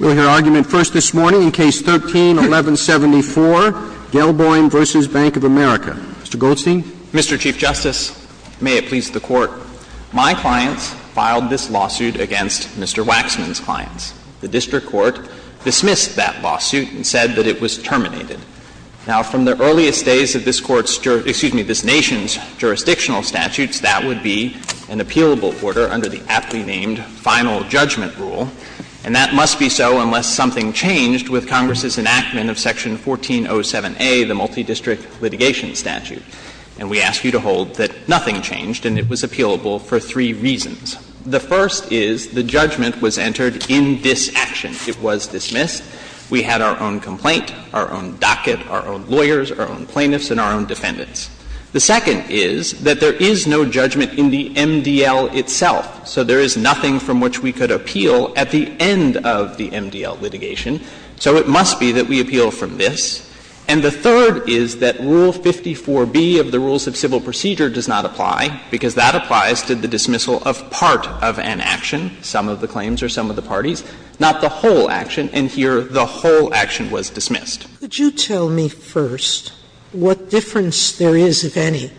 We'll hear argument first this morning in Case 13-1174, Gelboim v. Bank of America. Mr. Goldstein. Mr. Chief Justice, may it please the Court. My clients filed this lawsuit against Mr. Waxman's clients. The district court dismissed that lawsuit and said that it was terminated. Now, from the earliest days of this Court's—excuse me, this Nation's jurisdictional statutes, that would be an appealable order under the aptly named Final Judgment Rule. And that must be so unless something changed with Congress's enactment of Section 1407a, the Multidistrict Litigation Statute. And we ask you to hold that nothing changed and it was appealable for three reasons. The first is the judgment was entered in disaction. It was dismissed. We had our own complaint, our own docket, our own lawyers, our own plaintiffs, and our own defendants. The second is that there is no judgment in the MDL itself. So there is nothing from which we could appeal at the end of the MDL litigation. So it must be that we appeal from this. And the third is that Rule 54b of the Rules of Civil Procedure does not apply, because that applies to the dismissal of part of an action, some of the claims or some of the parties, not the whole action. And here the whole action was dismissed. Sotomayor, could you tell me first what difference there is, if any,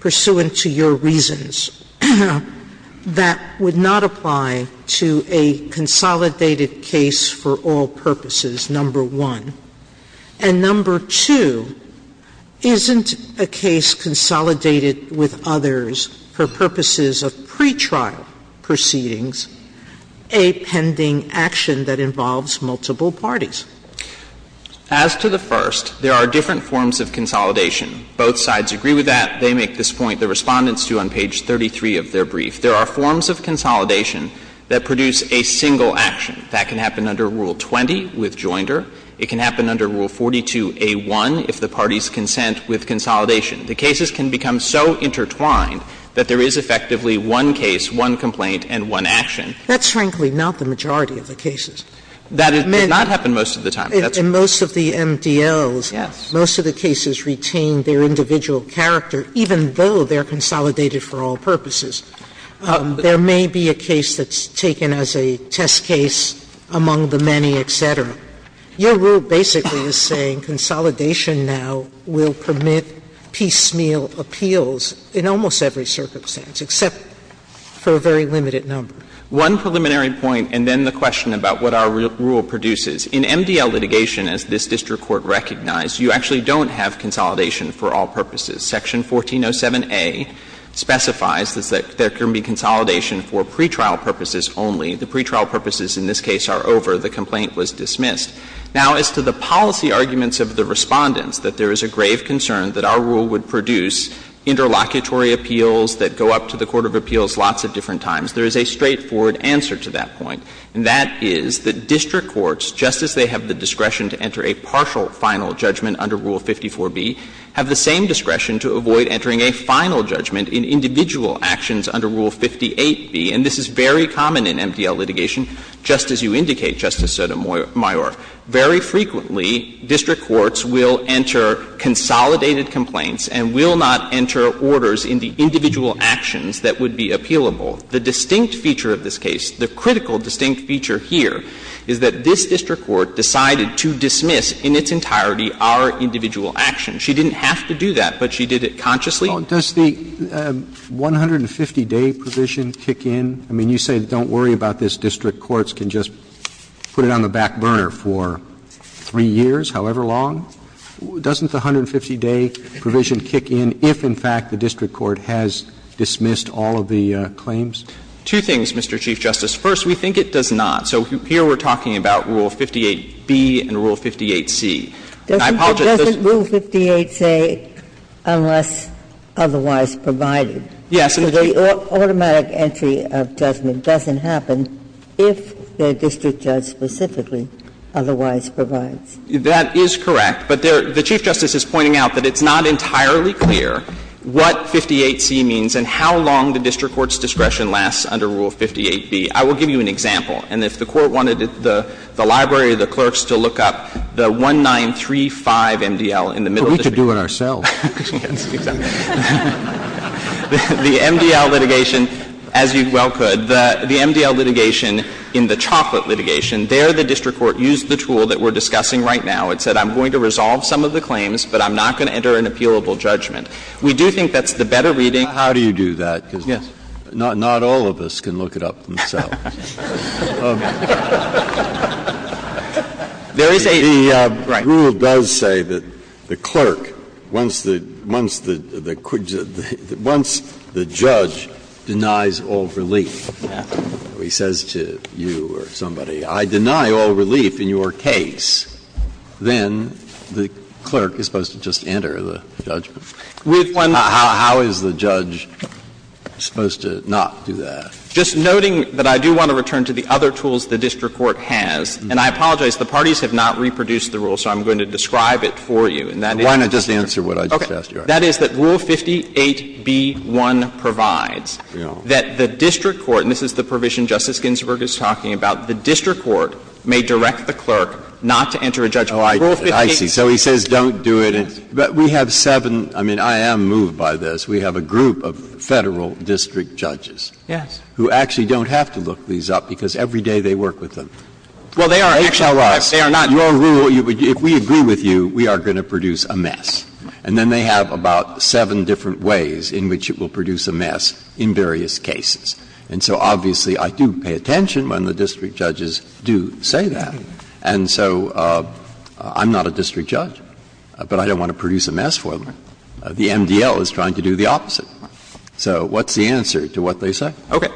pursuant to your reasons, that would not apply to a consolidated case for all purposes, number one? And number two, isn't a case consolidated with others for purposes of pretrial proceedings a pending action that involves multiple parties? As to the first, there are different forms of consolidation. Both sides agree with that. They make this point. The Respondents do on page 33 of their brief. There are forms of consolidation that produce a single action. That can happen under Rule 20 with Joinder. It can happen under Rule 42a1 if the parties consent with consolidation. The cases can become so intertwined that there is effectively one case, one complaint, and one action. Sotomayor, that's frankly not the majority of the cases. That does not happen most of the time. Sotomayor, that's what I'm saying. Sotomayor, in most of the MDLs, most of the cases retain their individual character, even though they are consolidated for all purposes. There may be a case that's taken as a test case among the many, et cetera. Your rule basically is saying consolidation now will permit piecemeal appeals in almost every circumstance, except for a very limited number. One preliminary point, and then the question about what our rule produces. In MDL litigation, as this district court recognized, you actually don't have consolidation for all purposes. Section 1407a specifies that there can be consolidation for pretrial purposes only. The pretrial purposes in this case are over. The complaint was dismissed. Now, as to the policy arguments of the Respondents, that there is a grave concern that our rule would produce interlocutory appeals that go up to the court of appeals lots of different times. There is a straightforward answer to that point, and that is that district courts, just as they have the discretion to enter a partial final judgment under Rule 54b, have the same discretion to avoid entering a final judgment in individual actions under Rule 58b. And this is very common in MDL litigation, just as you indicate, Justice Sotomayor. Very frequently, district courts will enter consolidated complaints and will not enter orders in the individual actions that would be appealable. The distinct feature of this case, the critical distinct feature here, is that this district court decided to dismiss in its entirety our individual actions. She didn't have to do that, but she did it consciously. Roberts. Does the 150-day provision kick in? I mean, you say don't worry about this. District courts can just put it on the back burner for 3 years, however long. Doesn't the 150-day provision kick in if, in fact, the district court has dismissed all of the claims? Two things, Mr. Chief Justice. First, we think it does not. So here we're talking about Rule 58b and Rule 58c. And I apologize. Doesn't Rule 58 say, unless otherwise provided? Yes. So the automatic entry of judgment doesn't happen if the district judge specifically otherwise provides. That is correct. But the Chief Justice is pointing out that it's not entirely clear what 58c means and how long the district court's discretion lasts under Rule 58b. I will give you an example. And if the Court wanted the library of the clerks to look up the 1935 MDL in the middle of the district court. But we could do it ourselves. The MDL litigation, as you well could, the MDL litigation in the chocolate litigation, there the district court used the tool that we're discussing right now. It said, I'm going to resolve some of the claims, but I'm not going to enter an appealable judgment. We do think that's the better reading. Breyer, how do you do that? Because not all of us can look it up themselves. The rule does say that the clerk, once the judge denies all relief, he says to you or somebody, I deny all relief in your case. Then the clerk is supposed to just enter the judgment. How is the judge supposed to not do that? Just noting that I do want to return to the other tools the district court has, and I apologize, the parties have not reproduced the rule, so I'm going to describe it for you. And that is the district court. Why don't I just answer what I just asked you? Okay. That is that Rule 58b-1 provides that the district court, and this is the provision Justice Ginsburg is talking about, the district court may direct the clerk not to enter a judgment. Breyer, I see. So he says don't do it. But we have seven – I mean, I am moved by this. We have a group of Federal district judges who actually don't have to look these up because every day they work with them. Well, they are actually not. They are not. Your rule, if we agree with you, we are going to produce a mess. And then they have about seven different ways in which it will produce a mess in various cases. And so obviously, I do pay attention when the district judges do say that. And so I'm not a district judge, but I don't want to produce a mess for them. The MDL is trying to do the opposite. So what's the answer to what they say? Okay.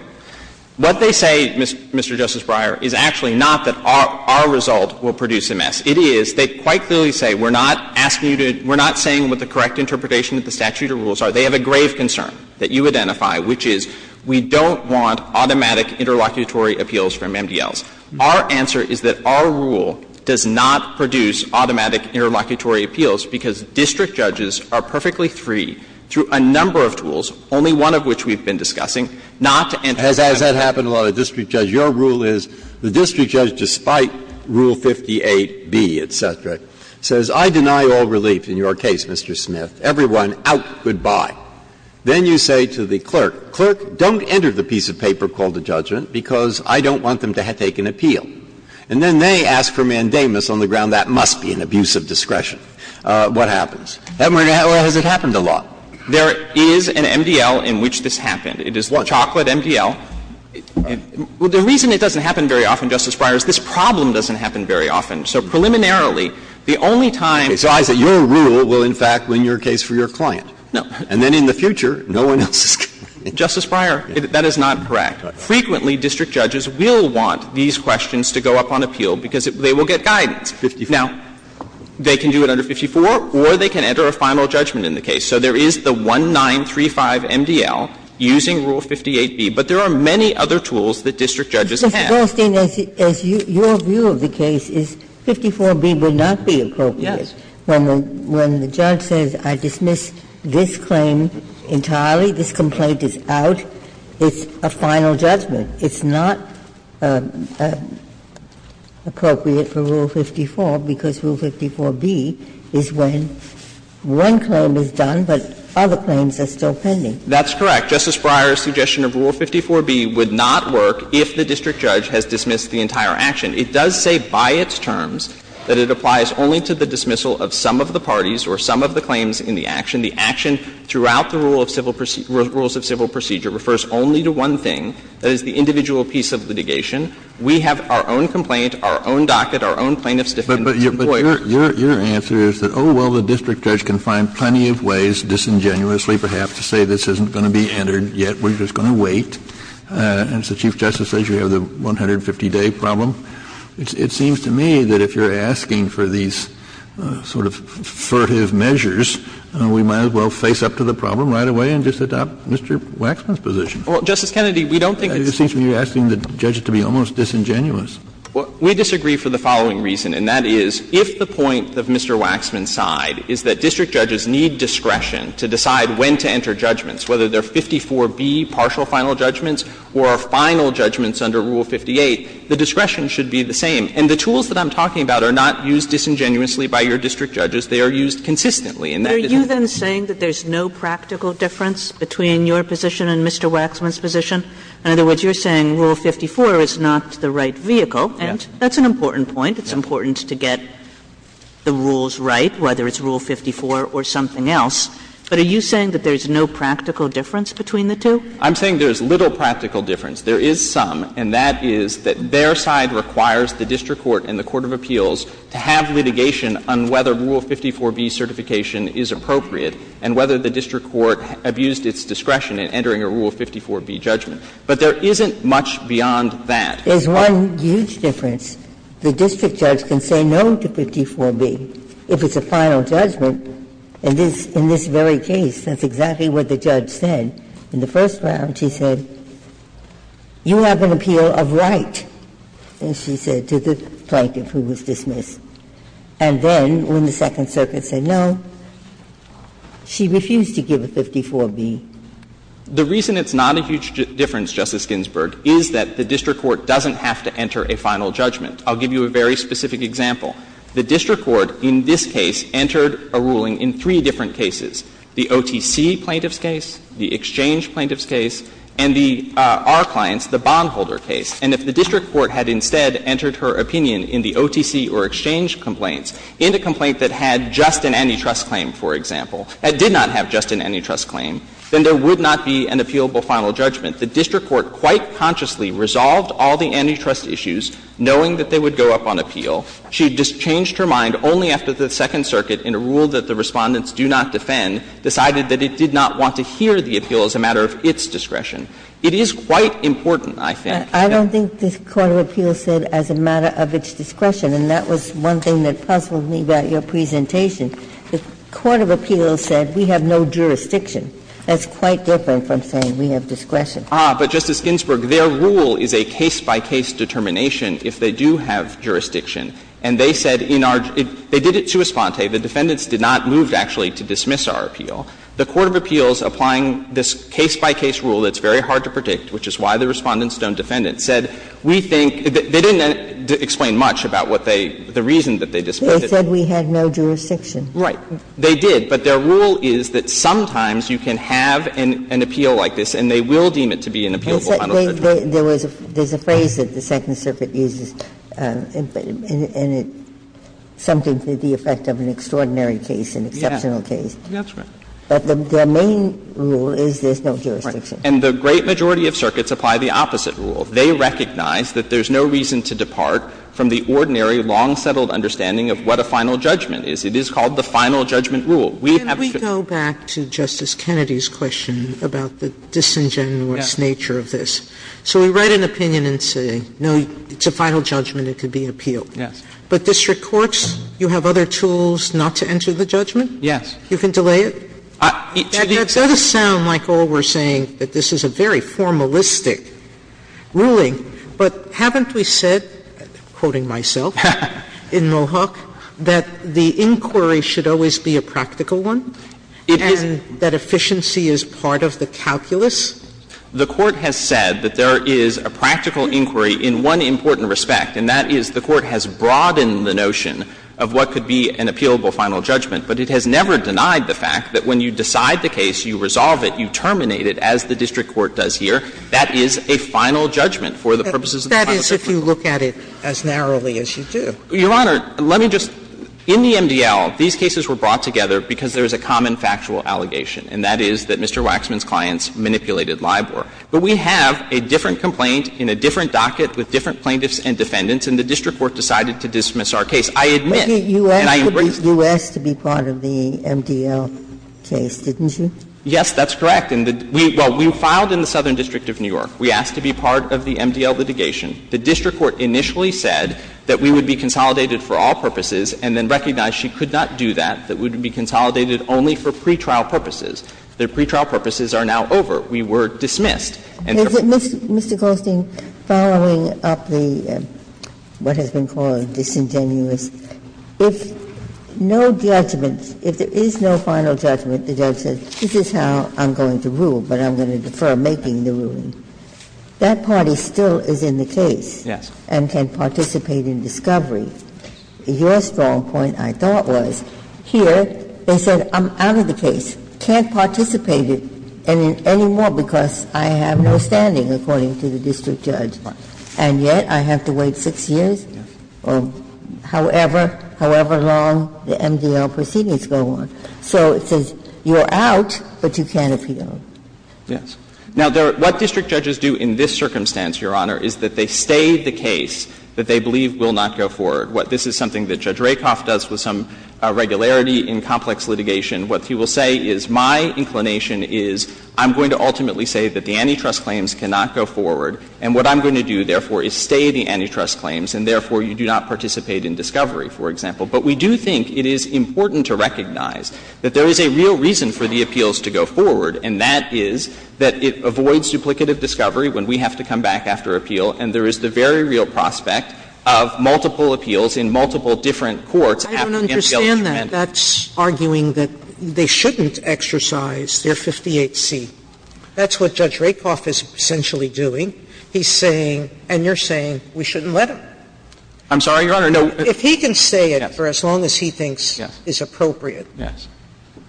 What they say, Mr. Justice Breyer, is actually not that our result will produce a mess. It is they quite clearly say we are not asking you to – we are not saying with the correct interpretation that the statute of rules are. They have a grave concern that you identify, which is we don't want automatic interlocutory appeals from MDLs. Our answer is that our rule does not produce automatic interlocutory appeals because district judges are perfectly free through a number of tools, only one of which we have been discussing, not to enter into a mess. Breyer, your rule is the district judge, despite Rule 58b, et cetera, says I deny all relief in your case, Mr. Smith. Everyone out, good-bye. Then you say to the clerk, clerk, don't enter the piece of paper called a judgment because I don't want them to take an appeal. And then they ask for mandamus on the ground that must be an abuse of discretion. What happens? Has it happened a lot? There is an MDL in which this happened. It is the chocolate MDL. The reason it doesn't happen very often, Justice Breyer, is this problem doesn't happen very often. So preliminarily, the only time – So I say your rule will, in fact, win your case for your client. No. And then in the future, no one else is going to win. Justice Breyer, that is not correct. Frequently, district judges will want these questions to go up on appeal because they will get guidance. Now, they can do it under 54 or they can enter a final judgment in the case. So there is the 1935 MDL using Rule 58b. But there are many other tools that district judges have. Justice Goldstein, as your view of the case is 54b would not be appropriate. Yes. When the judge says I dismiss this claim entirely, this complaint is out, it's a final judgment. It's not appropriate for Rule 54 because Rule 54b is when one claim is done but other claims are still pending. That's correct. Justice Breyer's suggestion of Rule 54b would not work if the district judge has dismissed the entire action. It does say by its terms that it applies only to the dismissal of some of the parties or some of the claims in the action. The action throughout the rules of civil procedure refers only to one thing, that is the individual piece of litigation. We have our own complaint, our own docket, our own plaintiff's defense employer. But your answer is that, oh, well, the district judge can find plenty of ways, disingenuously perhaps, to say this isn't going to be entered yet, we're just going to wait. And so Chief Justice says you have the 150-day problem. It seems to me that if you're asking for these sort of furtive measures, we might as well face up to the problem right away and just adopt Mr. Waxman's position. Well, Justice Kennedy, we don't think it's — It seems to me you're asking the judge to be almost disingenuous. We disagree for the following reason, and that is, if the point of Mr. Waxman's side is that district judges need discretion to decide when to enter judgments, whether they're 54B partial final judgments or final judgments under Rule 58, the discretion should be the same. And the tools that I'm talking about are not used disingenuously by your district judges. They are used consistently, and that is important. But are you then saying that there's no practical difference between your position and Mr. Waxman's position? In other words, you're saying Rule 54 is not the right vehicle, and that's an important point. It's important to get the rules right, whether it's Rule 54 or something else. But are you saying that there's no practical difference between the two? I'm saying there's little practical difference. There is some, and that is that their side requires the district court and the court of appeals to have litigation on whether Rule 54B certification is appropriate and whether the district court abused its discretion in entering a Rule 54B judgment. But there isn't much beyond that. There's one huge difference. The district judge can say no to 54B if it's a final judgment. In this very case, that's exactly what the judge said. In the first round, she said, you have an appeal of right, and she said to the plaintiff who was dismissed. And then, when the Second Circuit said no, she refused to give a 54B. The reason it's not a huge difference, Justice Ginsburg, is that the district court doesn't have to enter a final judgment. I'll give you a very specific example. The district court in this case entered a ruling in three different cases, the OTC plaintiff's case, the exchange plaintiff's case, and the Our Clients, the bondholder case. And if the district court had instead entered her opinion in the OTC or exchange complaints, in a complaint that had just an antitrust claim, for example, that did not have just an antitrust claim, then there would not be an appealable final judgment. The district court quite consciously resolved all the antitrust issues, knowing that they would go up on appeal. She had just changed her mind only after the Second Circuit, in a rule that the Respondents do not defend, decided that it did not want to hear the appeal as a matter of its discretion. It is quite important, I think. Ginsburg. I don't think the court of appeals said as a matter of its discretion, and that was one thing that puzzled me about your presentation. The court of appeals said we have no jurisdiction. That's quite different from saying we have discretion. Ah, but, Justice Ginsburg, their rule is a case-by-case determination if they do have jurisdiction. And they said in our – they did it to esponte. The defendants did not move, actually, to dismiss our appeal. The court of appeals, applying this case-by-case rule that's very hard to predict, which is why the Respondents don't defend it, said we think – they didn't explain much about what they – the reason that they dismissed it. They said we had no jurisdiction. Right. They did, but their rule is that sometimes you can have an appeal like this and they will deem it to be an appealable kind of judgment. There was a – there's a phrase that the Second Circuit uses, and it – something to the effect of an extraordinary case, an exceptional case. Yeah, that's right. But the main rule is there's no jurisdiction. And the great majority of circuits apply the opposite rule. They recognize that there's no reason to depart from the ordinary, long-settled understanding of what a final judgment is. It is called the final judgment rule. We have to – Sotomayor's question about the disingenuous nature of this. So we write an opinion and say, no, it's a final judgment, it can be appealed. Yes. But district courts, you have other tools not to enter the judgment? Yes. You can delay it? It should be – That does sound like all we're saying, that this is a very formalistic ruling. But haven't we said, quoting myself, in Mohawk, that the inquiry should always be a practical one, and that efficiency is part of the calculus? The Court has said that there is a practical inquiry in one important respect, and that is the Court has broadened the notion of what could be an appealable final judgment. But it has never denied the fact that when you decide the case, you resolve it, you terminate it, as the district court does here. That is a final judgment for the purposes of the final judgment. That is if you look at it as narrowly as you do. Your Honor, let me just – in the MDL, these cases were brought together because there is a common factual allegation, and that is that Mr. Waxman's clients manipulated LIBOR. But we have a different complaint in a different docket with different plaintiffs and defendants, and the district court decided to dismiss our case. I admit, and I embrace it. You asked to be part of the MDL case, didn't you? Yes, that's correct. Well, we filed in the Southern District of New York. We asked to be part of the MDL litigation. The district court initially said that we would be consolidated for all purposes and then recognized she could not do that, that we would be consolidated only for pretrial purposes. The pretrial purposes are now over. We were dismissed. And therefore we are dismissed. Mr. Goldstein, following up the, what has been called disingenuous, if no judgment is made, if there is no final judgment, the judge says this is how I'm going to rule, but I'm going to defer making the ruling, that party still is in the case and can participate in discovery. Your strong point, I thought, was here they said I'm out of the case, can't participate anymore because I have no standing, according to the district judge, and yet I have to wait 6 years or however, however long the MDL proceedings go on. So it says you're out, but you can't appeal. Yes. Now, what district judges do in this circumstance, Your Honor, is that they stay the case that they believe will not go forward. This is something that Judge Rakoff does with some regularity in complex litigation. What he will say is my inclination is I'm going to ultimately say that the antitrust claims cannot go forward, and what I'm going to do, therefore, is stay the antitrust claims and, therefore, you do not participate in discovery, for example. But we do think it is important to recognize that there is a real reason for the appeals to go forward, and that is that it avoids duplicative discovery when we have to come back after appeal, and there is the very real prospect of multiple appeals in multiple different courts. Sotomayor, I don't understand that. That's arguing that they shouldn't exercise their 58C. That's what Judge Rakoff is essentially doing. He's saying, and you're saying, we shouldn't let him. I'm sorry, Your Honor, no. If he can say it for as long as he thinks is appropriate,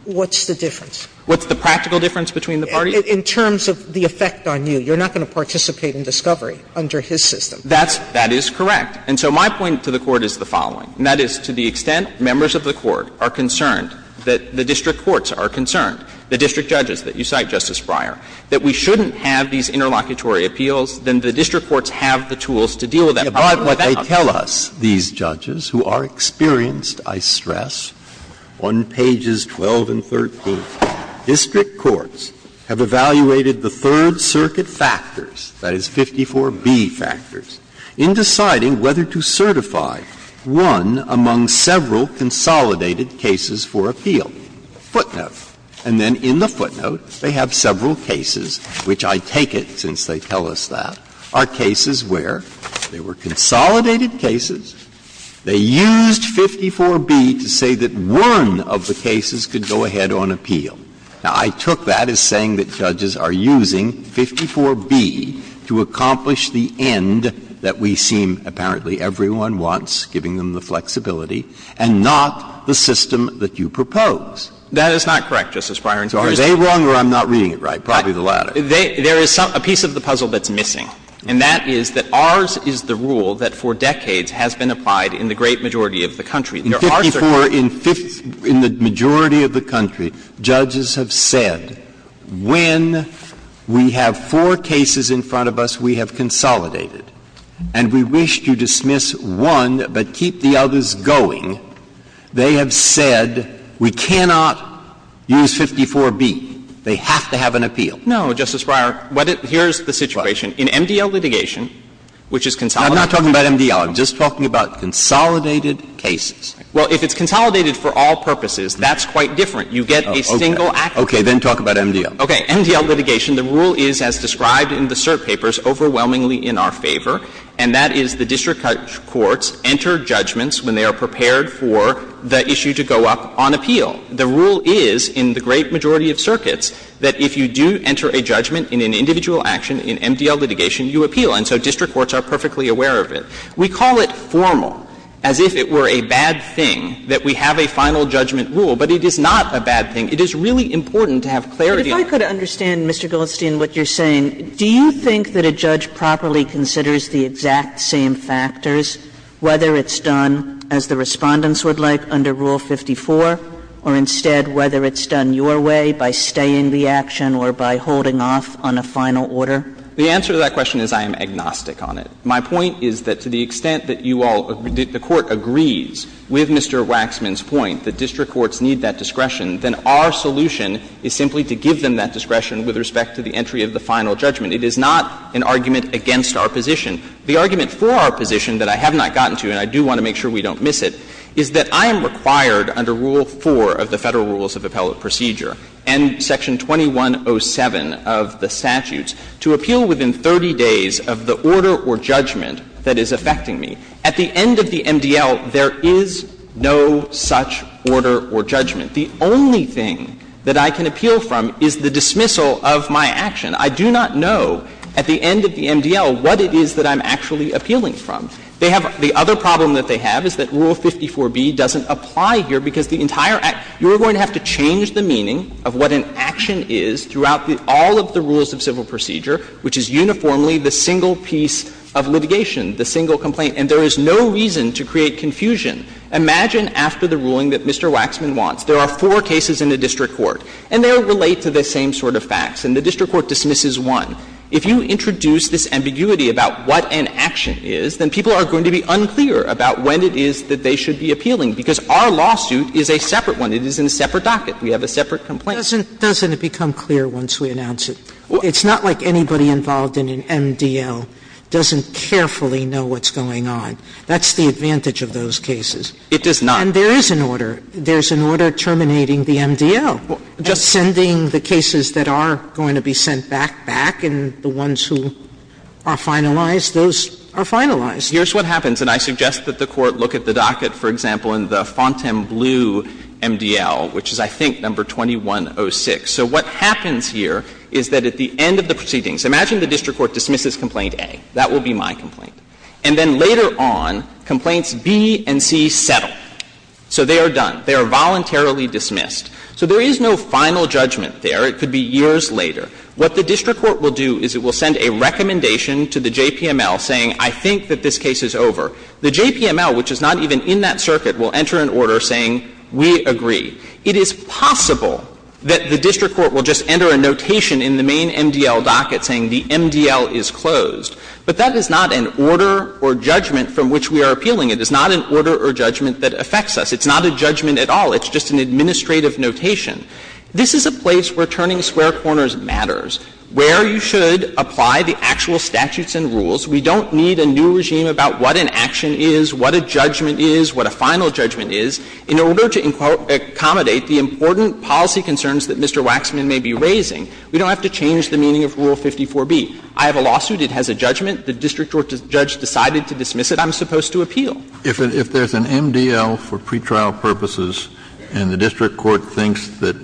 what's the difference? What's the practical difference between the parties? In terms of the effect on you, you're not going to participate in discovery under his system. That's – that is correct. And so my point to the Court is the following, and that is to the extent members of the Court are concerned that the district courts are concerned, the district judges that you cite, Justice Breyer, that we shouldn't have these interlocutory appeals, then the district courts have the tools to deal with that. Breyer, what they tell us, these judges, who are experienced, I stress, on pages 12 and 13, district courts have evaluated the Third Circuit factors, that is 54B factors, in deciding whether to certify one among several consolidated cases for appeal, 54B, footnote, and then in the footnote they have several cases, which I take it since they tell us that, are cases where there were consolidated cases, they used 54B to say that one of the cases could go ahead on appeal. Now, I took that as saying that judges are using 54B to accomplish the end that we seem, apparently, everyone wants, giving them the flexibility, and not the system that you propose. That is not correct, Justice Breyer. So are they wrong or I'm not reading it right? Probably the latter. There is a piece of the puzzle that's missing, and that is that ours is the rule that for decades has been applied in the great majority of the country. In 54, in the majority of the country, judges have said, when we have four cases in front of us we have consolidated, and we wish to dismiss one but keep the others going, they have said we cannot use 54B. They have to have an appeal. No, Justice Breyer, here's the situation. In MDL litigation, which is consolidated cases. I'm not talking about MDL. I'm just talking about consolidated cases. Well, if it's consolidated for all purposes, that's quite different. You get a single action. Okay. Then talk about MDL. Okay. MDL litigation, the rule is as described in the cert papers, overwhelmingly in our favor, and that is the district courts enter judgments when they are required to be prepared for the issue to go up on appeal. The rule is, in the great majority of circuits, that if you do enter a judgment in an individual action in MDL litigation, you appeal. And so district courts are perfectly aware of it. We call it formal, as if it were a bad thing that we have a final judgment rule. But it is not a bad thing. It is really important to have clarity. Kagan. Kagan. But if I could understand, Mr. Goldstein, what you're saying, do you think that a judge that properly considers the exact same factors, whether it's done, as the Respondents would like, under Rule 54, or instead whether it's done your way by staying the action or by holding off on a final order? The answer to that question is I am agnostic on it. My point is that to the extent that you all – that the Court agrees with Mr. Waxman's point that district courts need that discretion, then our solution is simply to give them that discretion with respect to the entry of the final judgment. It is not an argument against our position. The argument for our position that I have not gotten to, and I do want to make sure we don't miss it, is that I am required under Rule 4 of the Federal Rules of Appellate Procedure and Section 2107 of the statutes to appeal within 30 days of the order or judgment that is affecting me. At the end of the MDL, there is no such order or judgment. The only thing that I can appeal from is the dismissal of my action. I do not know at the end of the MDL what it is that I'm actually appealing from. They have – the other problem that they have is that Rule 54b doesn't apply here because the entire – you are going to have to change the meaning of what an action is throughout all of the rules of civil procedure, which is uniformly the single piece of litigation, the single complaint. And there is no reason to create confusion. Imagine after the ruling that Mr. Waxman wants. There are four cases in a district court, and they all relate to the same sort of facts. And the district court dismisses one. If you introduce this ambiguity about what an action is, then people are going to be unclear about when it is that they should be appealing, because our lawsuit is a separate one. It is in a separate docket. We have a separate complaint. Sotomayor. Doesn't it become clear once we announce it? It's not like anybody involved in an MDL doesn't carefully know what's going on. That's the advantage of those cases. It does not. And there is an order. There is an order terminating the MDL and sending the cases that are going to be sent back, back, and the ones who are finalized, those are finalized. Here's what happens. And I suggest that the Court look at the docket, for example, in the Fontainebleau MDL, which is, I think, number 2106. So what happens here is that at the end of the proceedings, imagine the district court dismisses Complaint A. That will be my complaint. And then later on, Complaints B and C settle. So they are done. They are voluntarily dismissed. So there is no final judgment there. It could be years later. What the district court will do is it will send a recommendation to the JPML saying I think that this case is over. The JPML, which is not even in that circuit, will enter an order saying we agree. It is possible that the district court will just enter a notation in the main MDL docket saying the MDL is closed. But that is not an order or judgment from which we are appealing. It is not an order or judgment that affects us. It's not a judgment at all. It's just an administrative notation. This is a place where turning square corners matters, where you should apply the actual statutes and rules. We don't need a new regime about what an action is, what a judgment is, what a final judgment is, in order to accommodate the important policy concerns that Mr. Waxman may be raising. We don't have to change the meaning of Rule 54b. I have a lawsuit. It has a judgment. The district court judge decided to dismiss it. I'm supposed to appeal. Kennedy, if there's an MDL for pretrial purposes and the district court thinks that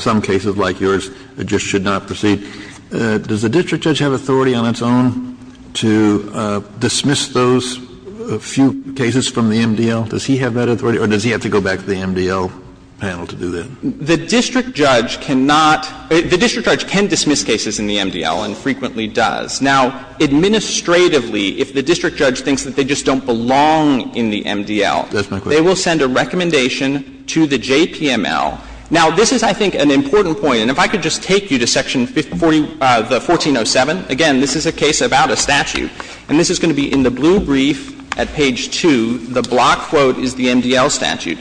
some cases like yours just should not proceed, does the district judge have authority on its own to dismiss those few cases from the MDL? Does he have that authority, or does he have to go back to the MDL panel to do that? The district judge cannot — the district judge can dismiss cases in the MDL and frequently does. Now, administratively, if the district judge thinks that they just don't belong in the MDL, they will send a recommendation to the JPML. Now, this is, I think, an important point. And if I could just take you to Section 1407. Again, this is a case about a statute. And this is going to be in the blue brief at page 2. The block quote is the MDL statute.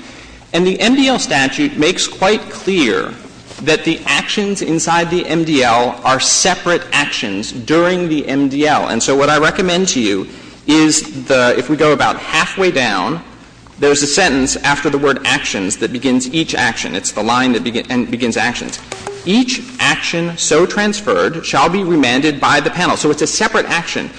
And the MDL statute makes quite clear that the actions inside the MDL are separate actions during the MDL. And so what I recommend to you is the — if we go about halfway down, there's a sentence after the word actions that begins each action. It's the line that begins actions. Each action so transferred shall be remanded by the panel. So it's a separate action.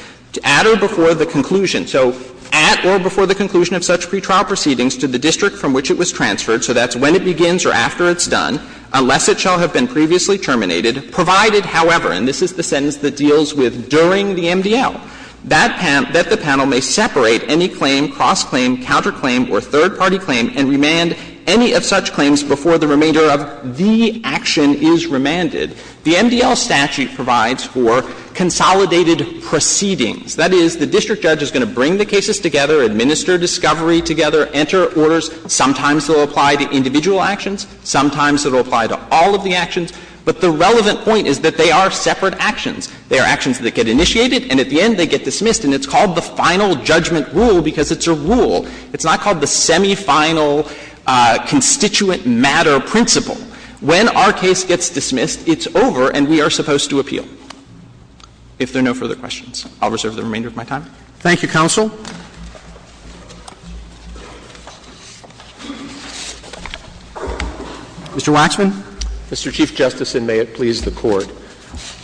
At or before the conclusion. So at or before the conclusion of such pretrial proceedings to the district from which it was transferred, so that's when it begins or after it's done, unless it shall have been previously terminated. Provided, however, and this is the sentence that deals with during the MDL, that the panel may separate any claim, cross-claim, counterclaim, or third-party claim, and remand any of such claims before the remainder of the action is remanded. The MDL statute provides for consolidated proceedings. That is, the district judge is going to bring the cases together, administer discovery together, enter orders. Sometimes they'll apply to individual actions. Sometimes it'll apply to all of the actions. But the relevant point is that they are separate actions. They are actions that get initiated, and at the end they get dismissed, and it's called the final judgment rule because it's a rule. It's not called the semifinal constituent matter principle. When our case gets dismissed, it's over and we are supposed to appeal. If there are no further questions, I'll reserve the remainder of my time. Roberts. Thank you, counsel. Mr. Waxman. Mr. Chief Justice, and may it please the Court.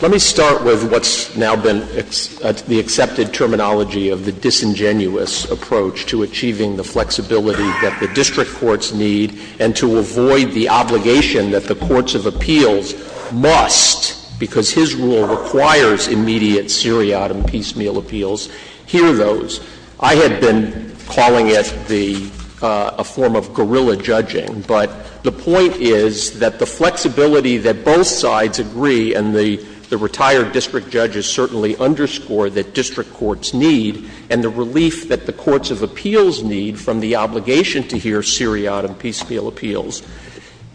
Let me start with what's now been the accepted terminology of the disingenuous approach to achieving the flexibility that the district courts need and to avoid the obligation that the courts of appeals must, because his rule requires immediate seriatim piecemeal appeals, hear those. I had been calling it the – a form of guerrilla judging, but the point is that the flexibility that both sides agree, and the retired district judges certainly underscore that district courts need, and the relief that the courts of appeals need from the obligation to hear seriatim piecemeal appeals,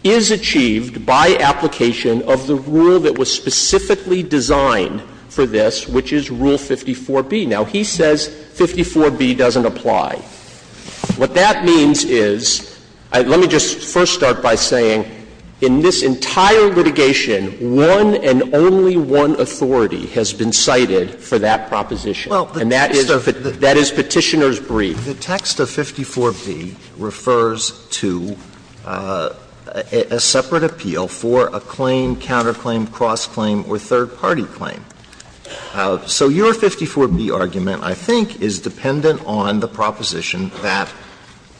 is achieved by application of the rule that was specifically designed for this, which is Rule 54B. Now, he says 54B doesn't apply. What that means is – let me just first start by saying, in this entire litigation, one and only one authority has been cited for that proposition. And that is Petitioner's brief. The text of 54B refers to a separate appeal for a claim, counterclaim, cross-claim, or third-party claim. So your 54B argument, I think, is dependent on the proposition that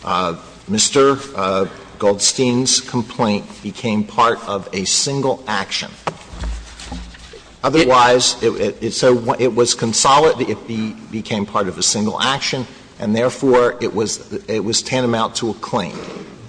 Mr. Goldstein's complaint became part of a single action. Otherwise, it was consolidated, it became part of a single action, and therefore, it was tantamount to a claim.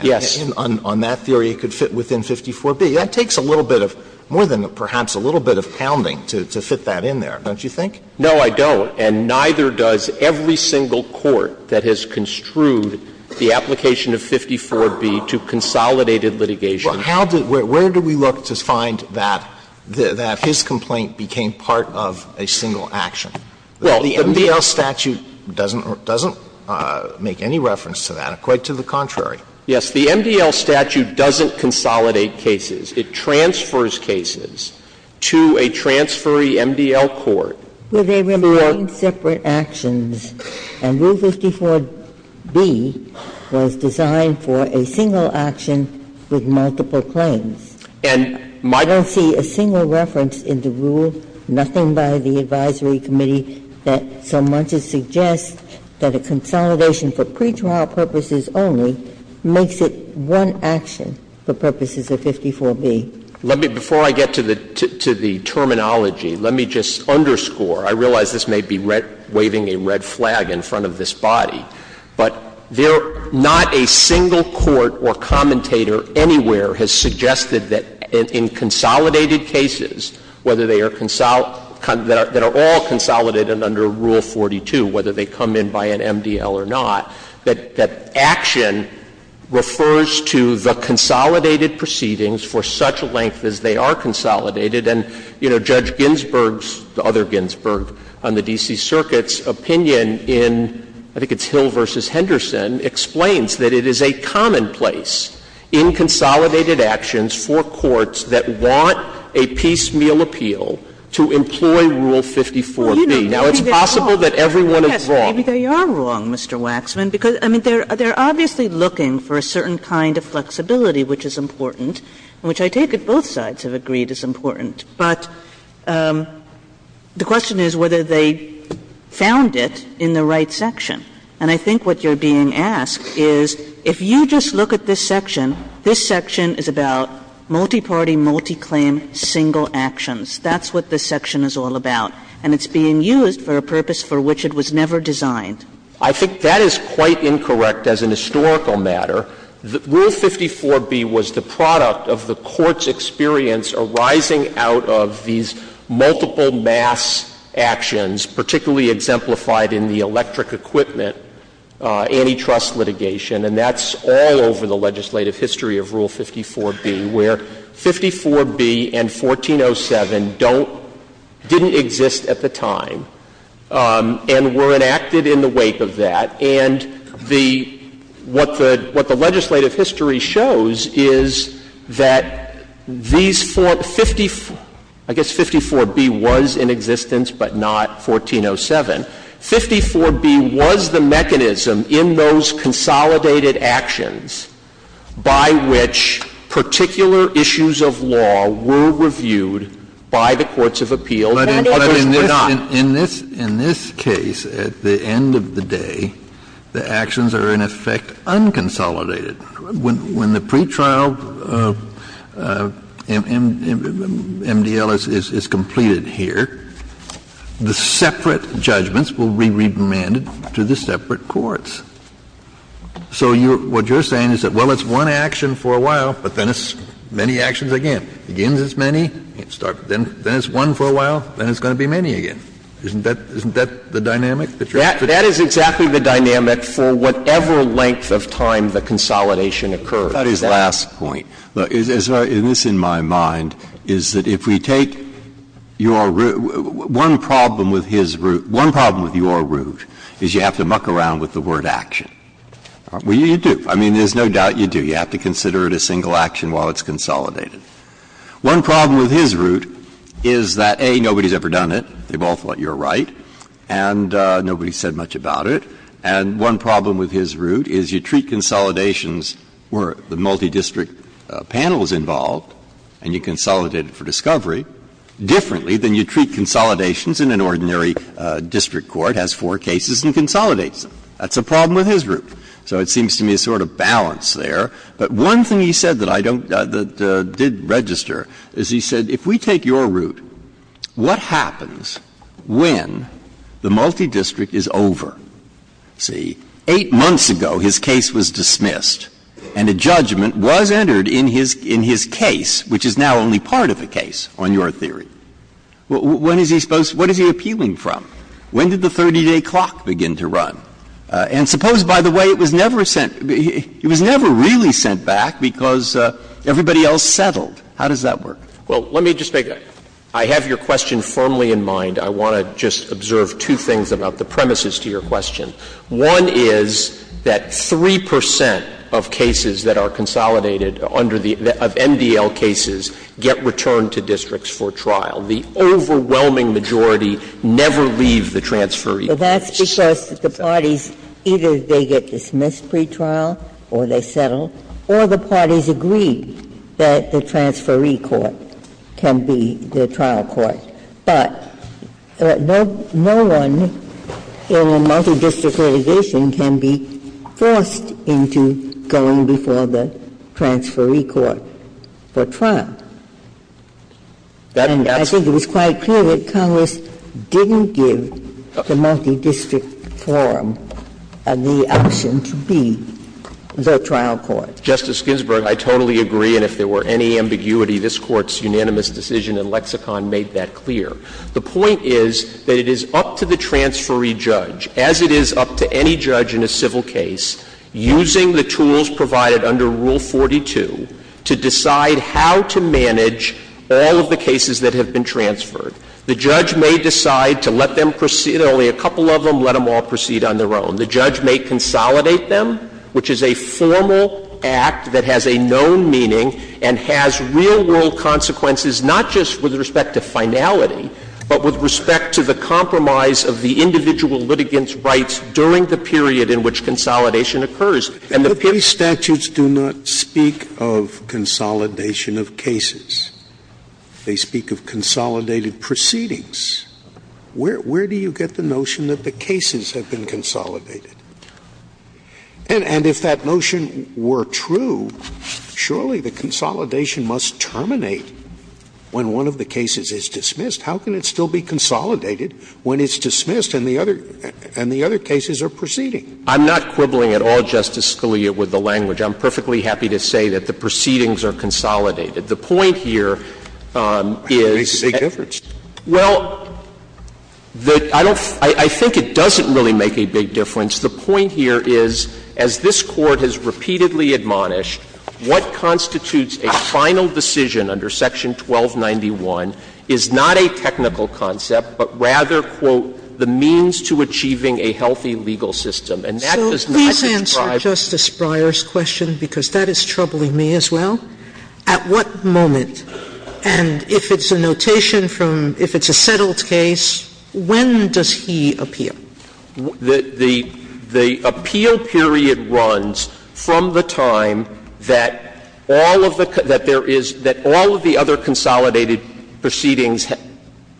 Yes. On that theory, it could fit within 54B. That takes a little bit of – more than perhaps a little bit of pounding to fit that in there, don't you think? No, I don't. And neither does every single court that has construed the application of 54B to consolidated litigation. Well, how did – where do we look to find that his complaint became part of a single action? Well, the MDL statute doesn't make any reference to that, quite to the contrary. Yes, the MDL statute doesn't consolidate cases. It transfers cases to a transferee MDL court. Well, they remain separate actions, and Rule 54B was designed for a single action with multiple claims. And I don't see a single reference in the rule, nothing by the advisory committee, that so much as suggests that a consolidation for pretrial purposes only makes it one action for purposes of 54B. Let me – before I get to the terminology, let me just underscore. I realize this may be waving a red flag in front of this body, but there – not a single court or commentator anywhere has suggested that in consolidated cases, whether they are – that are all consolidated under Rule 42, whether they come in by an MDL or not, that action refers to the consolidated proceedings for such a length as they are consolidated. And, you know, Judge Ginsburg's, the other Ginsburg on the D.C. Circuit's opinion in, I think it's Hill v. Henderson, explains that it is a commonplace in consolidated actions for courts that want a piecemeal appeal to employ Rule 54B. Now, it's possible that everyone is wrong. Kagan. Maybe they are wrong, Mr. Waxman, because, I mean, they're obviously looking for a certain kind of flexibility, which is important, and which I take it both sides have agreed is important. But the question is whether they found it in the right section. And I think what you're being asked is, if you just look at this section, this section is about multi-party, multi-claim, single actions. That's what this section is all about, and it's being used for a purpose for which it was never designed. I think that is quite incorrect as an historical matter. Rule 54B was the product of the Court's experience arising out of these multiple mass actions, particularly exemplified in the electric equipment antitrust litigation, and that's all over the legislative history of Rule 54B, where 54B and 1407 don't — didn't exist at the time and were enacted in the wake of that. And the — what the legislative history shows is that these four — 54 — I guess 54B was in existence, but not 1407. 54B was the mechanism in those consolidated actions by which particular issues of law were reviewed by the courts of appeal that others were not. Kennedy, in this case, at the end of the day, the actions are in effect unconsolidated. When the pretrial MDL is completed here, the separate judgments are not consolidated. The separate judgments will be remanded to the separate courts. So you're — what you're saying is that, well, it's one action for a while, but then it's many actions again. It begins as many, then it's one for a while, then it's going to be many again. Isn't that — isn't that the dynamic that you're after? That is exactly the dynamic for whatever length of time the consolidation occurs. That is the last point. Breyer, in this, in my mind, is that if we take your — one problem with his root — one problem with your root is you have to muck around with the word action. Well, you do. I mean, there's no doubt you do. You have to consider it a single action while it's consolidated. One problem with his root is that, A, nobody's ever done it. They've all thought you're right, and nobody's said much about it. And one problem with his root is you treat consolidations where the multidistrict panel is involved and you consolidate it for discovery differently than you treat consolidations in an ordinary district court, has four cases and consolidates them. That's a problem with his root. So it seems to me a sort of balance there. But one thing he said that I don't — that did register is he said, if we take your district is over, see, 8 months ago his case was dismissed, and a judgment was entered in his case, which is now only part of a case, on your theory. When is he supposed — what is he appealing from? When did the 30-day clock begin to run? And suppose, by the way, it was never sent — it was never really sent back because everybody else settled. How does that work? Well, let me just make a — I have your question firmly in mind. I want to just observe two things about the premises to your question. One is that 3 percent of cases that are consolidated under the — of MDL cases get returned to districts for trial. The overwhelming majority never leave the transferee courts. Ginsburg. Well, that's because the parties, either they get dismissed pretrial or they settle, or the parties agree that the transferee court can be the trial court. But no one in a multidistrict litigation can be forced into going before the transferee court for trial. And I think it was quite clear that Congress didn't give the multidistrict forum the option to be the trial court. Justice Ginsburg, I totally agree, and if there were any ambiguity, this Court's The point is that it is up to the transferee judge, as it is up to any judge in a civil case, using the tools provided under Rule 42 to decide how to manage all of the cases that have been transferred. The judge may decide to let them proceed, only a couple of them, let them all proceed on their own. The judge may consolidate them, which is a formal act that has a known meaning and has real-world consequences, not just with respect to finality, but with respect to the compromise of the individual litigant's rights during the period in which consolidation occurs. And the period Scalia's statutes do not speak of consolidation of cases. They speak of consolidated proceedings. Where do you get the notion that the cases have been consolidated? And if that notion were true, surely the consolidation must terminate when one of the cases is dismissed. How can it still be consolidated when it's dismissed and the other cases are proceeding? I'm not quibbling at all, Justice Scalia, with the language. I'm perfectly happy to say that the proceedings are consolidated. The point here is that It makes a big difference. Well, I think it doesn't really make a big difference. The point here is, as this Court has repeatedly admonished, what constitutes a final decision under Section 1291 is not a technical concept, but rather, quote, the means to achieving a healthy legal system. And that does not describe So please answer Justice Breyer's question, because that is troubling me as well. At what moment, and if it's a notation from, if it's a settled case, when does he appeal? The appeal period runs from the time that all of the, that there is, that all of the other consolidated proceedings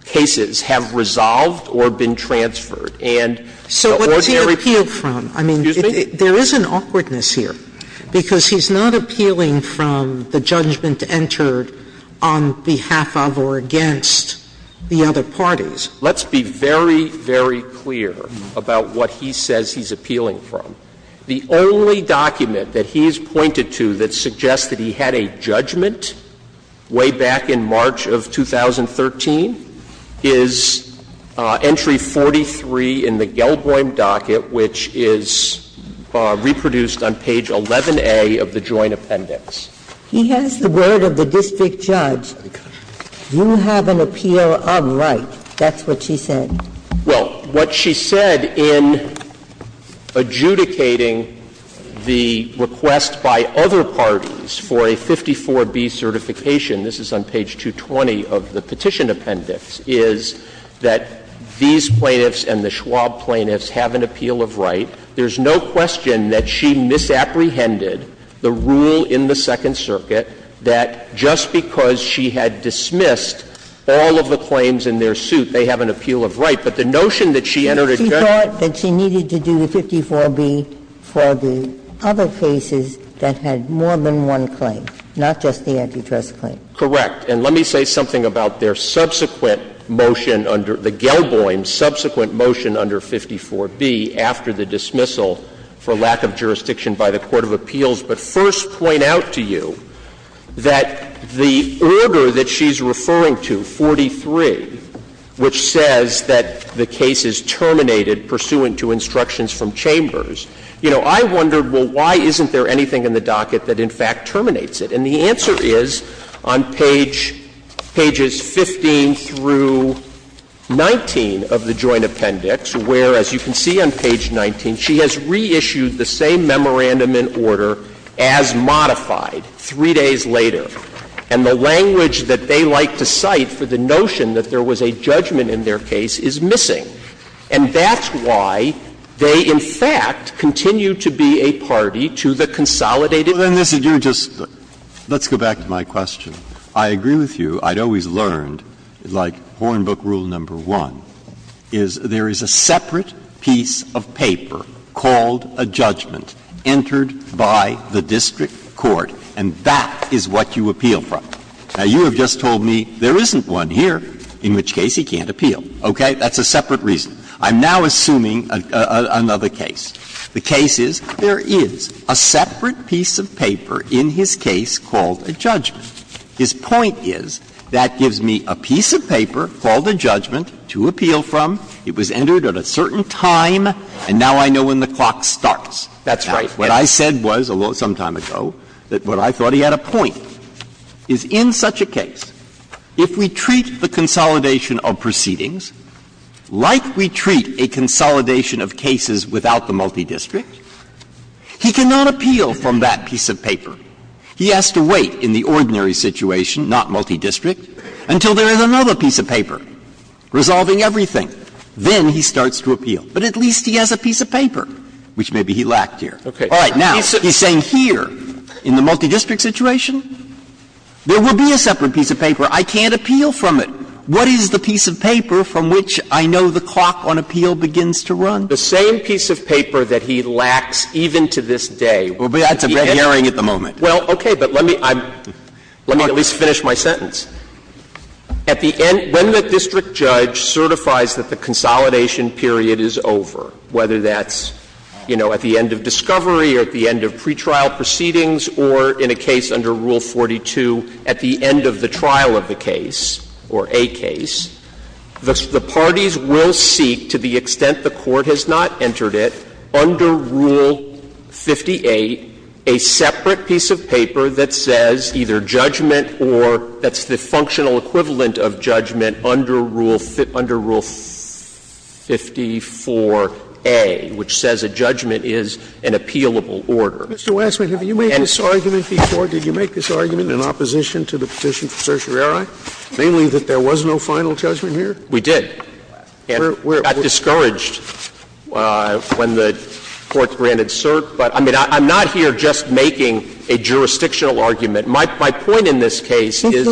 cases have resolved or been transferred. And the ordinary So what does he appeal from? I mean, there is an awkwardness here. Because he's not appealing from the judgment entered on behalf of or against the other parties. Let's be very, very clear about what he says he's appealing from. The only document that he's pointed to that suggests that he had a judgment way back in March of 2013 is entry 43 in the Gelboim docket, which is reproduced on page 11a of the Joint Appendix. He has the word of the district judge, you have an appeal of right. That's what she said. Well, what she said in adjudicating the request by other parties for a 54B certification this is on page 220 of the Petition Appendix, is that these plaintiffs and the Schwab plaintiffs have an appeal of right. There's no question that she misapprehended the rule in the Second Circuit that just because she had dismissed all of the claims in their suit, they have an appeal of right. But the notion that she entered a judgment She thought that she needed to do the 54B for the other cases that had more than one claim, not just the antitrust claim. Correct. And let me say something about their subsequent motion under the Gelboim, subsequent motion under 54B after the dismissal for lack of jurisdiction by the court of appeals. But first, point out to you that the order that she's referring to, 43, which says that the case is terminated pursuant to instructions from Chambers, you know, I wondered well, why isn't there anything in the docket that in fact terminates it? And the answer is on page 15 through 19 of the Joint Appendix, where, as you can see on page 19, she has reissued the same memorandum in order as modified 3 days later. And the language that they like to cite for the notion that there was a judgment in their case is missing. And that's why they, in fact, continue to be a party to the consolidated So, then, Mr. Giu, just let's go back to my question. I agree with you. I'd always learned, like Hornbook Rule No. 1, is there is a separate piece of paper called a judgment entered by the district court, and that is what you appeal from. Now, you have just told me there isn't one here in which Casey can't appeal. Okay? That's a separate reason. I'm now assuming another case. The case is, there is a separate piece of paper in his case called a judgment. His point is, that gives me a piece of paper called a judgment to appeal from. It was entered at a certain time, and now I know when the clock starts. That's right. What I said was, although some time ago, that what I thought he had a point is, in such a case, if we treat the consolidation of proceedings like we treat a consolidation of cases without the multidistrict, he cannot appeal from that piece of paper. He has to wait in the ordinary situation, not multidistrict, until there is another piece of paper resolving everything. Then he starts to appeal. But at least he has a piece of paper, which maybe he lacked here. All right. Now, he's saying here, in the multidistrict situation, there will be a separate piece of paper. I can't appeal from it. What is the piece of paper from which I know the clock on appeal begins to run? The same piece of paper that he lacks even to this day. That's a red herring at the moment. Well, okay. But let me at least finish my sentence. At the end of the district judge certifies that the consolidation period is over, whether that's, you know, at the end of discovery or at the end of pretrial The parties will seek, to the extent the Court has not entered it, under Rule 58, a separate piece of paper that says either judgment or that's the functional equivalent of judgment under Rule 54A, which says a judgment is an appealable order. Scalia, did you make this argument in opposition to the petition for certiorari? Mainly that there was no final judgment here? We did. And we got discouraged when the Court granted cert. But I mean, I'm not here just making a jurisdictional argument. My point in this case is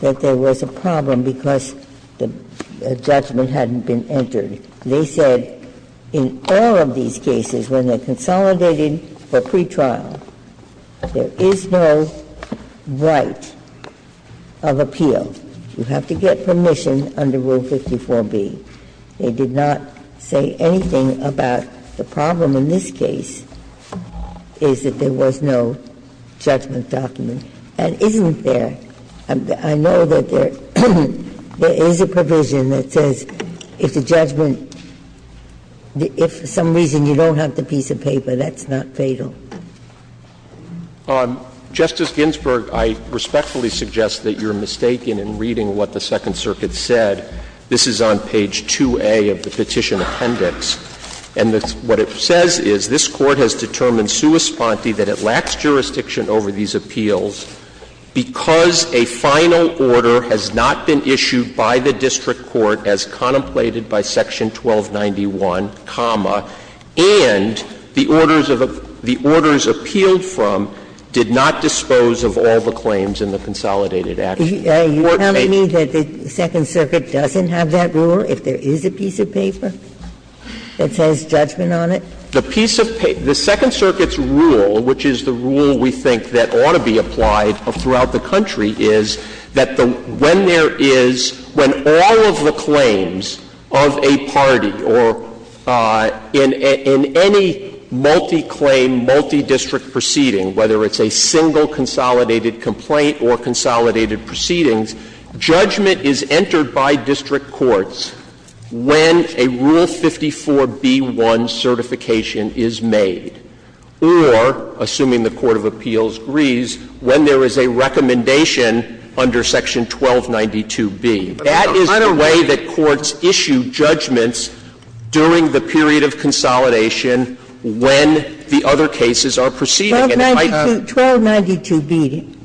that there was a problem because the judgment hadn't been entered. They said in all of these cases, when they're consolidated for pretrial, there is no right of appeal. You have to get permission under Rule 54B. They did not say anything about the problem in this case is that there was no judgment document. And isn't there and I know that there is a provision that says if the judgment if for some reason you don't have the piece of paper, that's not fatal. Justice Ginsburg, I respectfully suggest that you're mistaken in reading what the Second Circuit said. This is on page 2A of the petition appendix. And what it says is this Court has determined sua sponte that it lacks jurisdiction over these appeals because a final order has not been issued by the district court as contemplated by section 1291, comma, and the orders of the orders appealed from did not dispose of all the claims in the consolidated action. You're telling me that the Second Circuit doesn't have that rule, if there is a piece of paper that says judgment on it? The piece of paper, the Second Circuit's rule, which is the rule we think that ought to be applied throughout the country, is that when there is, when all of the claims of a party or in any multi-claim, multi-district proceeding, whether it's a single consolidated complaint or consolidated proceedings, judgment is entered by district courts when a Rule 54B-1 certification is issued. That is when a final judgment is made, or, assuming the court of appeals agrees, when there is a recommendation under section 1292B. That is the way that courts issue judgments during the period of consolidation when the other cases are proceeding. And it might have been a final judgment when the other cases are proceeding. Ginsburg. 1292B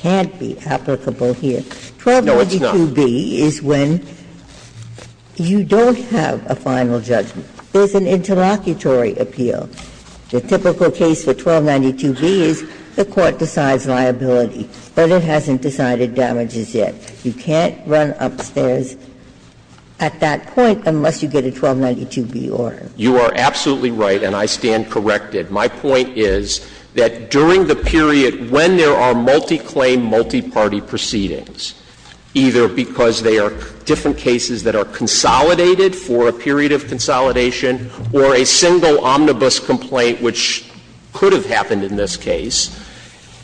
can't be applicable here. 1292B is when you don't have a final judgment. There is an interlocutory appeal. The typical case for 1292B is the court decides liability, but it hasn't decided damages yet. You can't run upstairs at that point unless you get a 1292B order. You are absolutely right, and I stand corrected. My point is that during the period when there are multi-claim, multi-party proceedings, either because they are different cases that are consolidated for a period of consolidation or a single omnibus complaint, which could have happened in this case,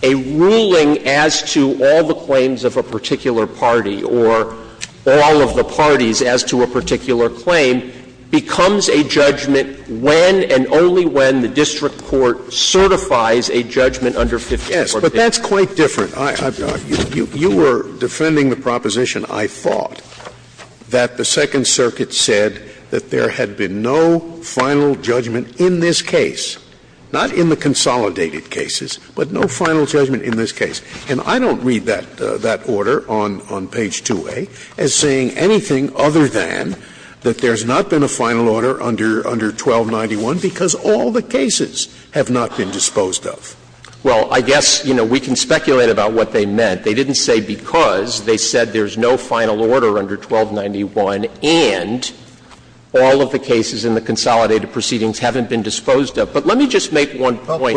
a ruling as to all the claims of a particular party or all of the parties as to a particular claim becomes a judgment when and only when the district court certifies a judgment under 54B. Scalia. Yes, but that's quite different. You were defending the proposition, I thought, that the Second Circuit said that there had been no final judgment in this case, not in the consolidated cases, but no final judgment in this case. And I don't read that order on page 2A as saying anything other than that there's not been a final order under 1291 because all the cases have not been disposed of. Well, I guess, you know, we can speculate about what they meant. They didn't say because. They said there's no final order under 1291 and all of the cases in the consolidated proceedings haven't been disposed of. But let me just make one point. Scalia.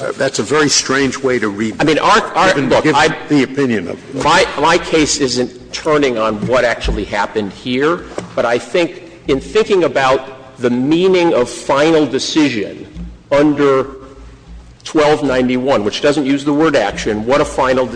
Well, I — that's a very strange way to read it, given the opinion of the Court. My case isn't turning on what actually happened here, but I think in thinking about the meaning of final decision under 1291, which doesn't use the word action, but it uses the word decision, what a final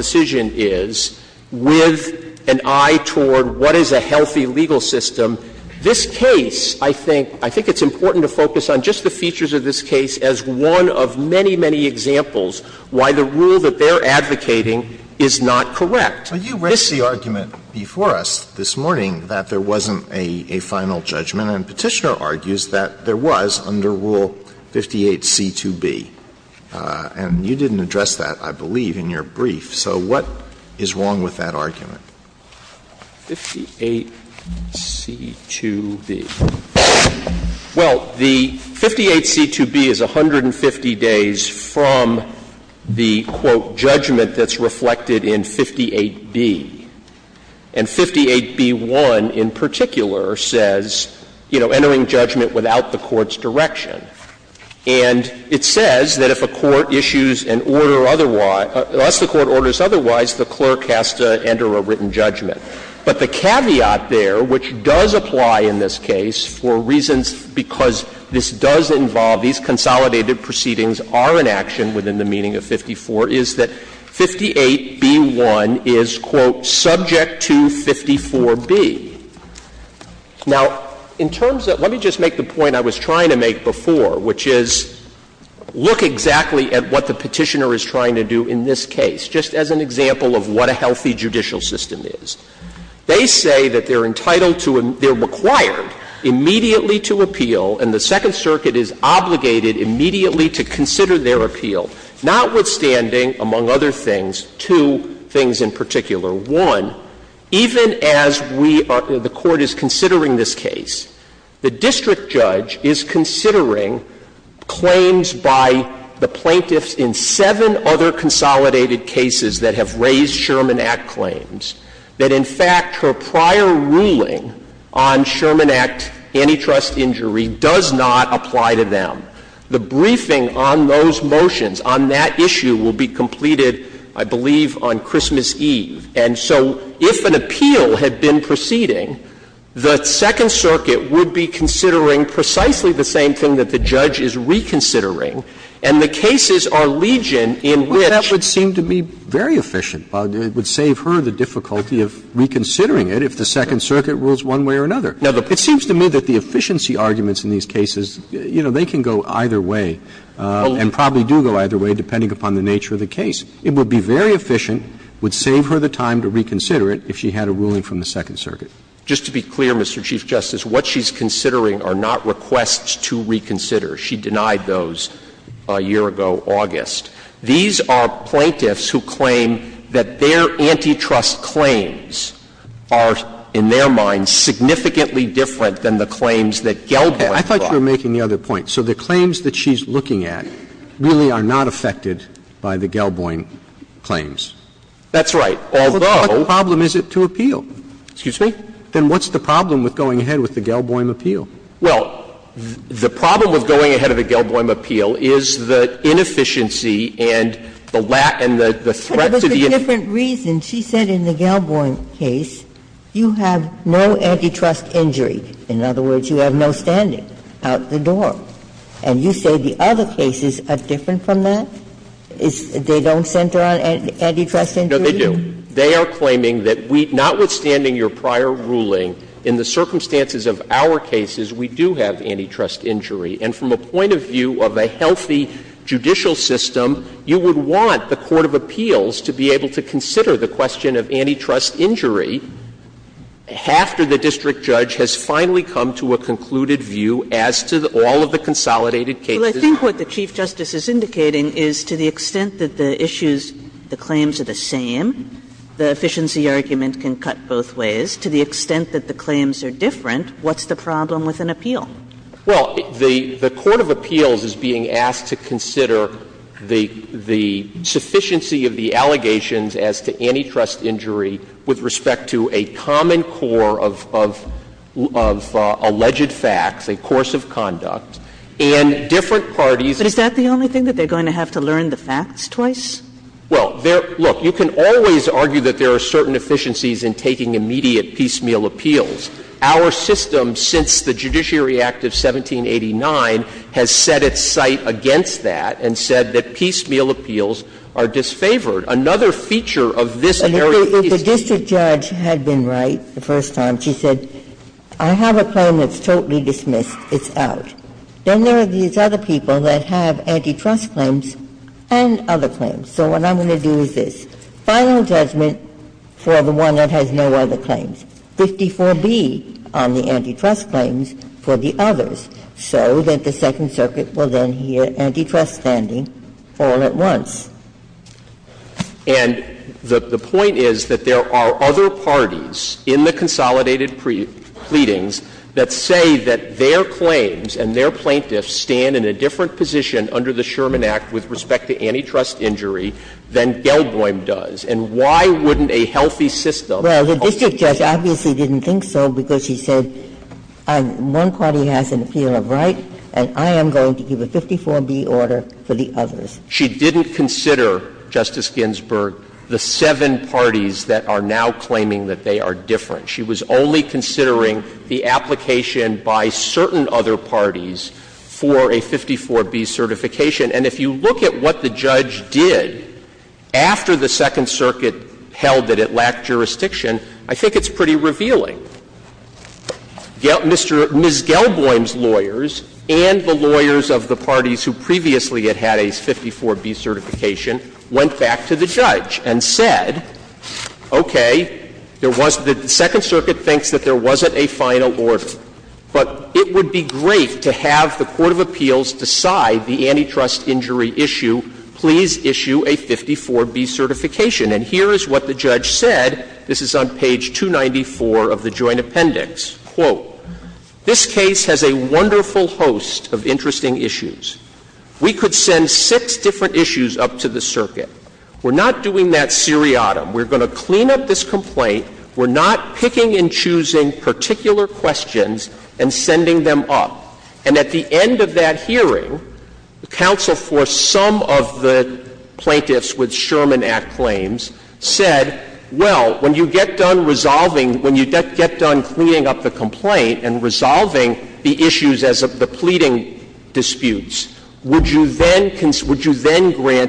decision is, with an eye toward what is a healthy legal system, this case, I think, I think it's important to focus on just the features of this case as one of many, many examples why the rule that they're advocating is not correct. Alito, you raised the argument before us this morning that there wasn't a final judgment, and Petitioner argues that there was under Rule 58c2b. And you didn't address that, I believe, in your brief. So what is wrong with that argument? 58c2b. Well, the 58c2b is 150 days from the, quote, judgment that's reflected in 58b. And 58b1 in particular says, you know, entering judgment without the court's direction. And it says that if a court issues an order otherwise, unless the court orders otherwise, the clerk has to enter a written judgment. But the caveat there, which does apply in this case for reasons because this does involve, these consolidated proceedings are an action within the meaning of 54, is that 58b1 is, quote, subject to 54b. Now, in terms of — let me just make the point I was trying to make before, which is look exactly at what the Petitioner is trying to do in this case, just as an example of what a healthy judicial system is. They say that they're entitled to — they're required immediately to appeal, and the Second Circuit is obligated immediately to consider their appeal, notwithstanding — among other things, two things in particular. One, even as we are — the Court is considering this case, the district judge is considering claims by the plaintiffs in seven other consolidated cases that have raised Sherman Act claims, that, in fact, her prior ruling on Sherman Act antitrust injury does not apply to them. The briefing on those motions, on that issue, will be completed, I believe, on Christmas Eve. And so if an appeal had been proceeding, the Second Circuit would be considering precisely the same thing that the judge is reconsidering, and the cases are legion in which — Roberts. Well, that would seem to me very efficient. It would save her the difficulty of reconsidering it if the Second Circuit rules one way or another. It seems to me that the efficiency arguments in these cases, you know, they can go either way, and probably do go either way depending upon the nature of the case. It would be very efficient, would save her the time to reconsider it if she had a ruling from the Second Circuit. Just to be clear, Mr. Chief Justice, what she's considering are not requests to reconsider. She denied those a year ago, August. These are plaintiffs who claim that their antitrust claims are, in their minds, significantly different than the claims that Geldof brought. I thought you were making the other point. So the claims that she's looking at really are not affected by the Geldof claims. That's right, although — Then what problem is it to appeal? Excuse me? Then what's the problem with going ahead with the Geldof appeal? Well, the problem with going ahead with the Geldof appeal is the inefficiency and the threat to the — But it was a different reason. She said in the Geldof case, you have no antitrust injury. In other words, you have no standing out the door. And you say the other cases are different from that? They don't center on antitrust injury? No, they do. They are claiming that we — notwithstanding your prior ruling, in the circumstances of our cases, we do have antitrust injury. And from a point of view of a healthy judicial system, you would want the court of appeals to be able to consider the question of antitrust injury after the district judge has finally come to a concluded view as to all of the consolidated cases. Well, I think what the Chief Justice is indicating is to the extent that the issues — the claims are the same, the efficiency argument can cut both ways. To the extent that the claims are different, what's the problem with an appeal? Well, the court of appeals is being asked to consider the sufficiency of the allegations as to antitrust injury with respect to a common core of alleged facts, a course of conduct, and different parties. But is that the only thing, that they're going to have to learn the facts twice? Well, there — look, you can always argue that there are certain efficiencies in taking immediate piecemeal appeals. Our system, since the Judiciary Act of 1789, has set its sight against that and said that piecemeal appeals are disfavored. Another feature of this very piecemeal — If the district judge had been right the first time, she said, I have a claim that's totally dismissed, it's out. Then there are these other people that have antitrust claims and other claims. So what I'm going to do is this. Final judgment for the one that has no other claims, 54B on the antitrust claims for the others, so that the Second Circuit will then hear antitrust standing all at once. And the point is that there are other parties in the consolidated pleadings that say that their claims and their plaintiffs stand in a different position under the Sherman Act with respect to antitrust injury than Gelboim does. And why wouldn't a healthy system Well, the district judge obviously didn't think so, because she said, one party has an appeal of right, and I am going to give a 54B order for the others. She didn't consider, Justice Ginsburg, the seven parties that are now claiming that they are different. She was only considering the application by certain other parties for a 54B certification. And if you look at what the judge did after the Second Circuit held that it lacked jurisdiction, I think it's pretty revealing. Ms. Gelboim's lawyers and the lawyers of the parties who previously had had a 54B certification went back to the judge and said, okay, there was the Second Circuit thinks that there wasn't a final order, but it would be great to have the court of appeals decide the antitrust injury issue, please issue a 54B certification. And here is what the judge said. This is on page 294 of the joint appendix. Quote, this case has a wonderful host of interesting issues. We could send six different issues up to the circuit. We're not doing that seriatim. We're going to clean up this complaint. We're not picking and choosing particular questions and sending them up. And at the end of that hearing, the counsel for some of the plaintiffs with Sherman Act claims said, well, when you get done resolving, when you get done cleaning up the complaint and resolving the issues as of the pleading disputes, would you then grant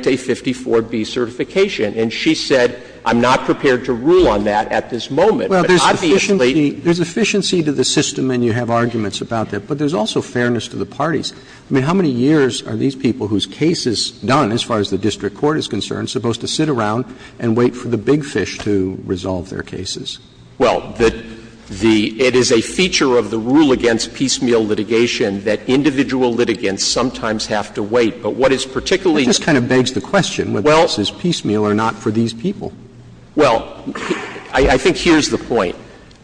a 54B certification? And she said, I'm not prepared to rule on that at this moment. But obviously they don't. Roberts. There's efficiency to the system and you have arguments about that, but there's also fairness to the parties. I mean, how many years are these people whose case is done, as far as the district court is concerned, supposed to sit around and wait for the big fish to resolve their cases? Well, the — it is a feature of the rule against piecemeal litigation that individual litigants sometimes have to wait. But what is particularly— It just kind of begs the question whether this is piecemeal or not for these people. Well, I think here's the point.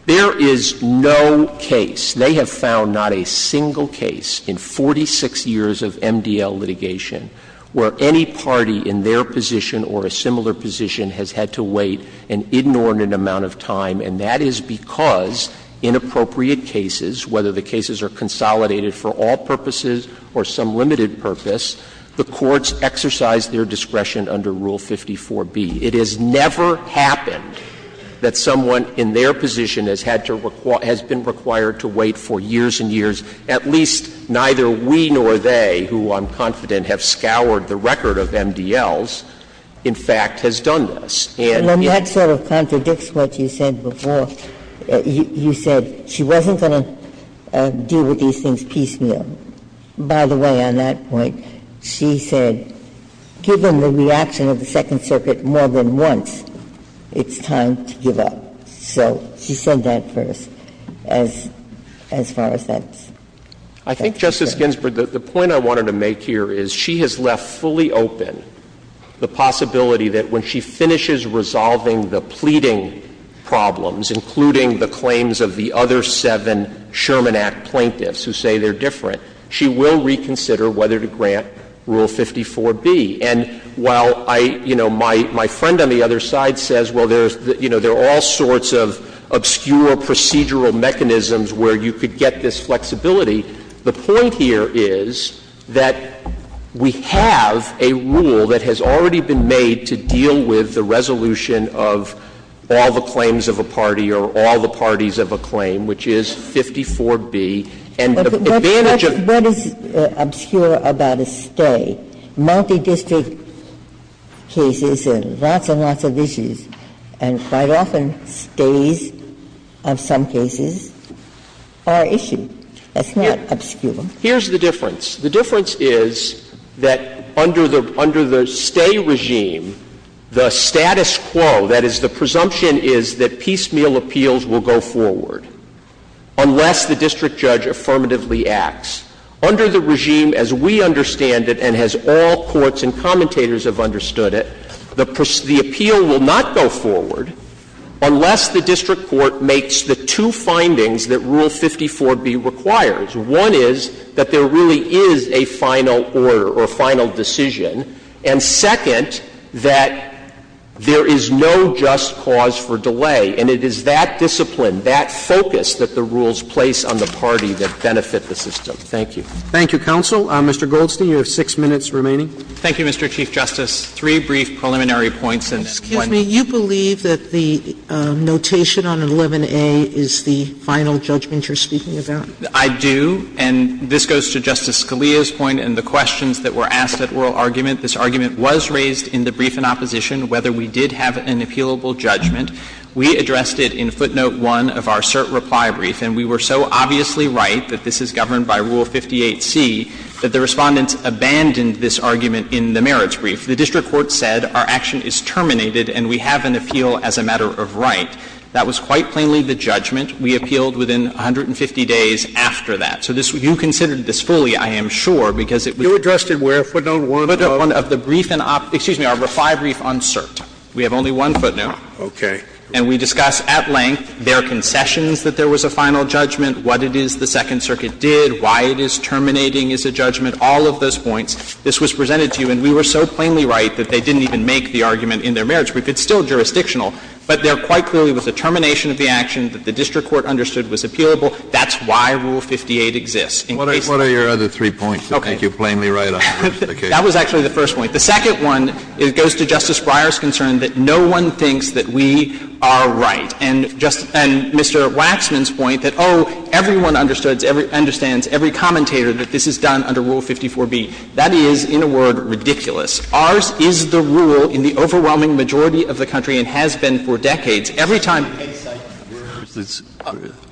There is no case, they have found not a single case in 46 years of MDL litigation where any party in their position or a similar position has had to wait an inordinate amount of time, and that is because in appropriate cases, whether the cases are consolidated for all purposes or some limited purpose, the courts exercise their discretion under Rule 54B. It has never happened that someone in their position has had to — has been required to wait for years and years, at least neither we nor they, who I'm confident have scoured the record of MDLs, in fact, has done this. And if— And then that sort of contradicts what you said before. You said she wasn't going to deal with these things piecemeal. By the way, on that point, she said, given the reaction of the Second Circuit more than once, it's time to give up. So she said that first, as far as that's concerned. I think, Justice Ginsburg, the point I wanted to make here is she has left fully open the possibility that when she finishes resolving the pleading problems, including the claims of the other seven Sherman Act plaintiffs who say they're different, she will reconsider whether to grant Rule 54B. And while I, you know, my friend on the other side says, well, there's, you know, there are all sorts of obscure procedural mechanisms where you could get this flexibility, the point here is that we have a rule that has already been made to deal with the resolution of all the claims of a party or all the parties of a claim, which is 54B. And the advantage of— What is obscure about a stay? Multidistrict cases and lots and lots of issues, and quite often stays of some cases are an issue. That's not obscure. Here's the difference. The difference is that under the stay regime, the status quo, that is, the presumption is that piecemeal appeals will go forward unless the district judge affirmatively acts. Under the regime, as we understand it and as all courts and commentators have understood it, the appeal will not go forward unless the district court makes the two findings that Rule 54B requires. One is that there really is a final order or final decision, and, second, that there is no just cause for delay, and it is that discipline, that focus that the rules place on the party that benefit the system. Thank you. Roberts. Thank you, counsel. Mr. Goldstein, you have 6 minutes remaining. Goldstein, Thank you, Mr. Chief Justice. Three brief preliminary points, and one— Sotomayor, you believe that the notation on 11A is the final judgment you're speaking about? Goldstein, I do, and this goes to Justice Scalia's point and the questions that were asked at oral argument. This argument was raised in the brief in opposition, whether we did have an appealable judgment. We addressed it in footnote 1 of our cert reply brief, and we were so obviously right that this is governed by Rule 58C that the Respondents abandoned this argument in the merits brief. The district court said our action is terminated and we have an appeal as a matter of right. That was quite plainly the judgment. We appealed within 150 days after that. So this you considered this fully, I am sure, because it was— You addressed it where? Footnote 1 of the brief and op—excuse me, our reply brief on cert. We have only one footnote. Okay. And we discuss at length their concessions that there was a final judgment, what it is the Second Circuit did, why it is terminating is a judgment, all of those points. This was presented to you, and we were so plainly right that they didn't even make the argument in their merits brief. It's still jurisdictional, but there quite clearly was a termination of the action that the district court understood was appealable. That's why Rule 58 exists. What are your other three points that make you plainly right on most occasions? That was actually the first point. The second one goes to Justice Breyer's concern that no one thinks that we are right. And Mr. Waxman's point that, oh, everyone understands, every commentator that this is done under Rule 54b. That is, in a word, ridiculous. Ours is the rule in the overwhelming majority of the country and has been for decades. Every time— Case sites.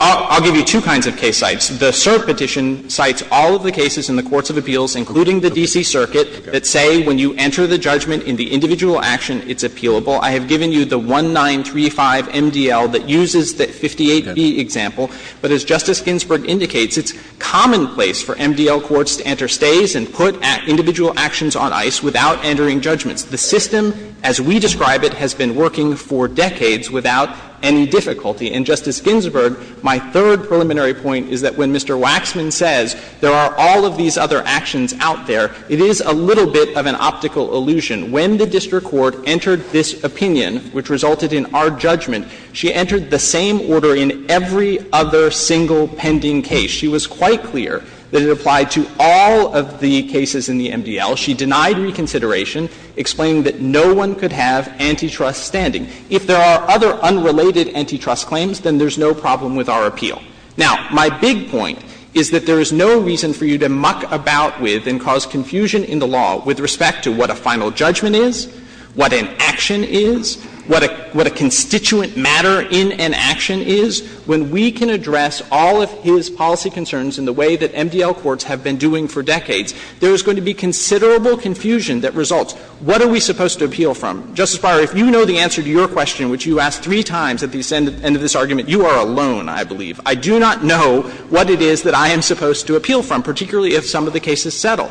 I'll give you two kinds of case sites. The cert petition cites all of the cases in the courts of appeals, including the D.C. Circuit, that say when you enter the judgment in the individual action, it's appealable. I have given you the 1935 MDL that uses the 58b example. But as Justice Ginsburg indicates, it's commonplace for MDL courts to enter stays and put individual actions on ice without entering judgments. The system as we describe it has been working for decades without any difficulty. And, Justice Ginsburg, my third preliminary point is that when Mr. Waxman says there are all of these other actions out there, it is a little bit of an optical illusion. When the district court entered this opinion, which resulted in our judgment, she entered the same order in every other single pending case. She was quite clear that it applied to all of the cases in the MDL. She denied reconsideration, explaining that no one could have antitrust standing. If there are other unrelated antitrust claims, then there's no problem with our appeal. Now, my big point is that there is no reason for you to muck about with and cause confusion in the law with respect to what a final judgment is, what an action is, what a constituent matter in an action is. When we can address all of his policy concerns in the way that MDL courts have been doing for decades, there is going to be considerable confusion that results. What are we supposed to appeal from? Justice Breyer, if you know the answer to your question, which you asked three times at the end of this argument, you are alone, I believe. I do not know what it is that I am supposed to appeal from, particularly if some of the cases settle.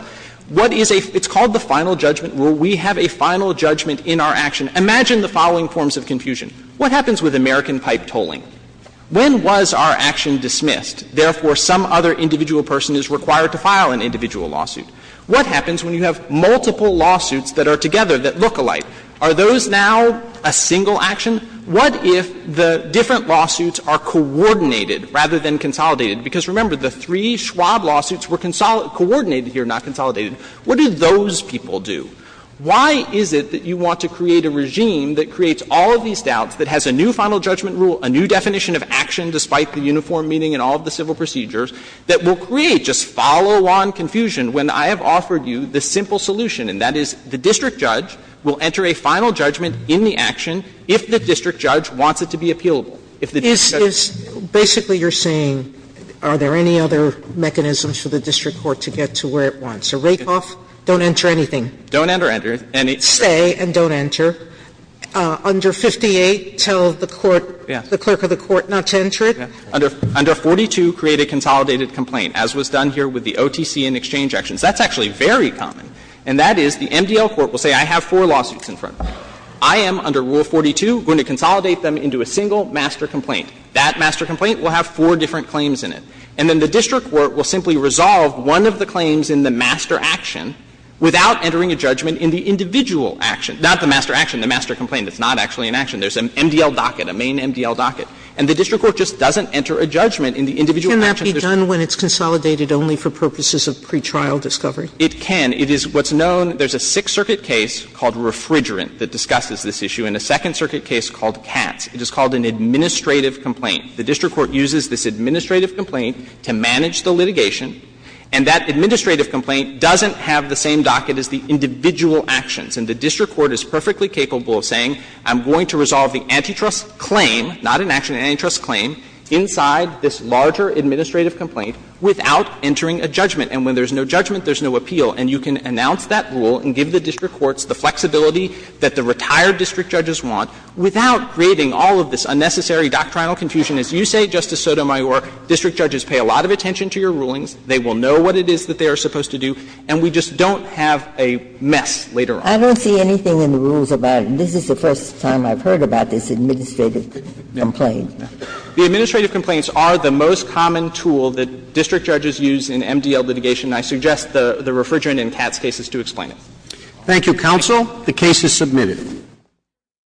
What is a — it's called the final judgment rule. We have a final judgment in our action. Imagine the following forms of confusion. What happens with American pipe tolling? When was our action dismissed? Therefore, some other individual person is required to file an individual lawsuit. What happens when you have multiple lawsuits that are together that look alike? Are those now a single action? What if the different lawsuits are coordinated rather than consolidated? Because remember, the three Schwab lawsuits were coordinated here, not consolidated. What do those people do? Why is it that you want to create a regime that creates all of these doubts, that has a new final judgment rule, a new definition of action despite the uniform meaning in all of the civil procedures, that will create just follow-on confusion when I have offered you the simple solution, and that is the district judge will enter a final judgment in the action if the district judge wants it to be appealable? Sotomayor Is — basically, you're saying are there any other mechanisms for the district court to get to where it wants? A write-off, don't enter anything. Don't enter, enter. Stay and don't enter. Under 58, tell the court, the clerk of the court not to enter it. Under 42, create a consolidated complaint, as was done here with the OTC and exchange actions. That's actually very common. And that is the MDL court will say, I have four lawsuits in front of me. I am, under Rule 42, going to consolidate them into a single master complaint. That master complaint will have four different claims in it. And then the district court will simply resolve one of the claims in the master action without entering a judgment in the individual action, not the master action, the master complaint. It's not actually an action. There's an MDL docket, a main MDL docket. And the district court just doesn't enter a judgment in the individual action. Sotomayor Can that be done when it's consolidated only for purposes of pretrial discovery? It can. It is what's known. There's a Sixth Circuit case called Refrigerant that discusses this issue, and a Second Circuit case called Katz. It is called an administrative complaint. The district court uses this administrative complaint to manage the litigation. And that administrative complaint doesn't have the same docket as the individual actions. And the district court is perfectly capable of saying, I'm going to resolve the antitrust complaint without entering a judgment. And when there's no judgment, there's no appeal. And you can announce that rule and give the district courts the flexibility that the retired district judges want without creating all of this unnecessary doctrinal confusion. As you say, Justice Sotomayor, district judges pay a lot of attention to your rulings. They will know what it is that they are supposed to do. And we just don't have a mess later on. I don't see anything in the rules about it. This is the first time I've heard about this administrative complaint. The administrative complaints are the most common tool that district judges use in MDL litigation, and I suggest the Refrigerant and Katz cases to explain it. Thank you, counsel. The case is submitted.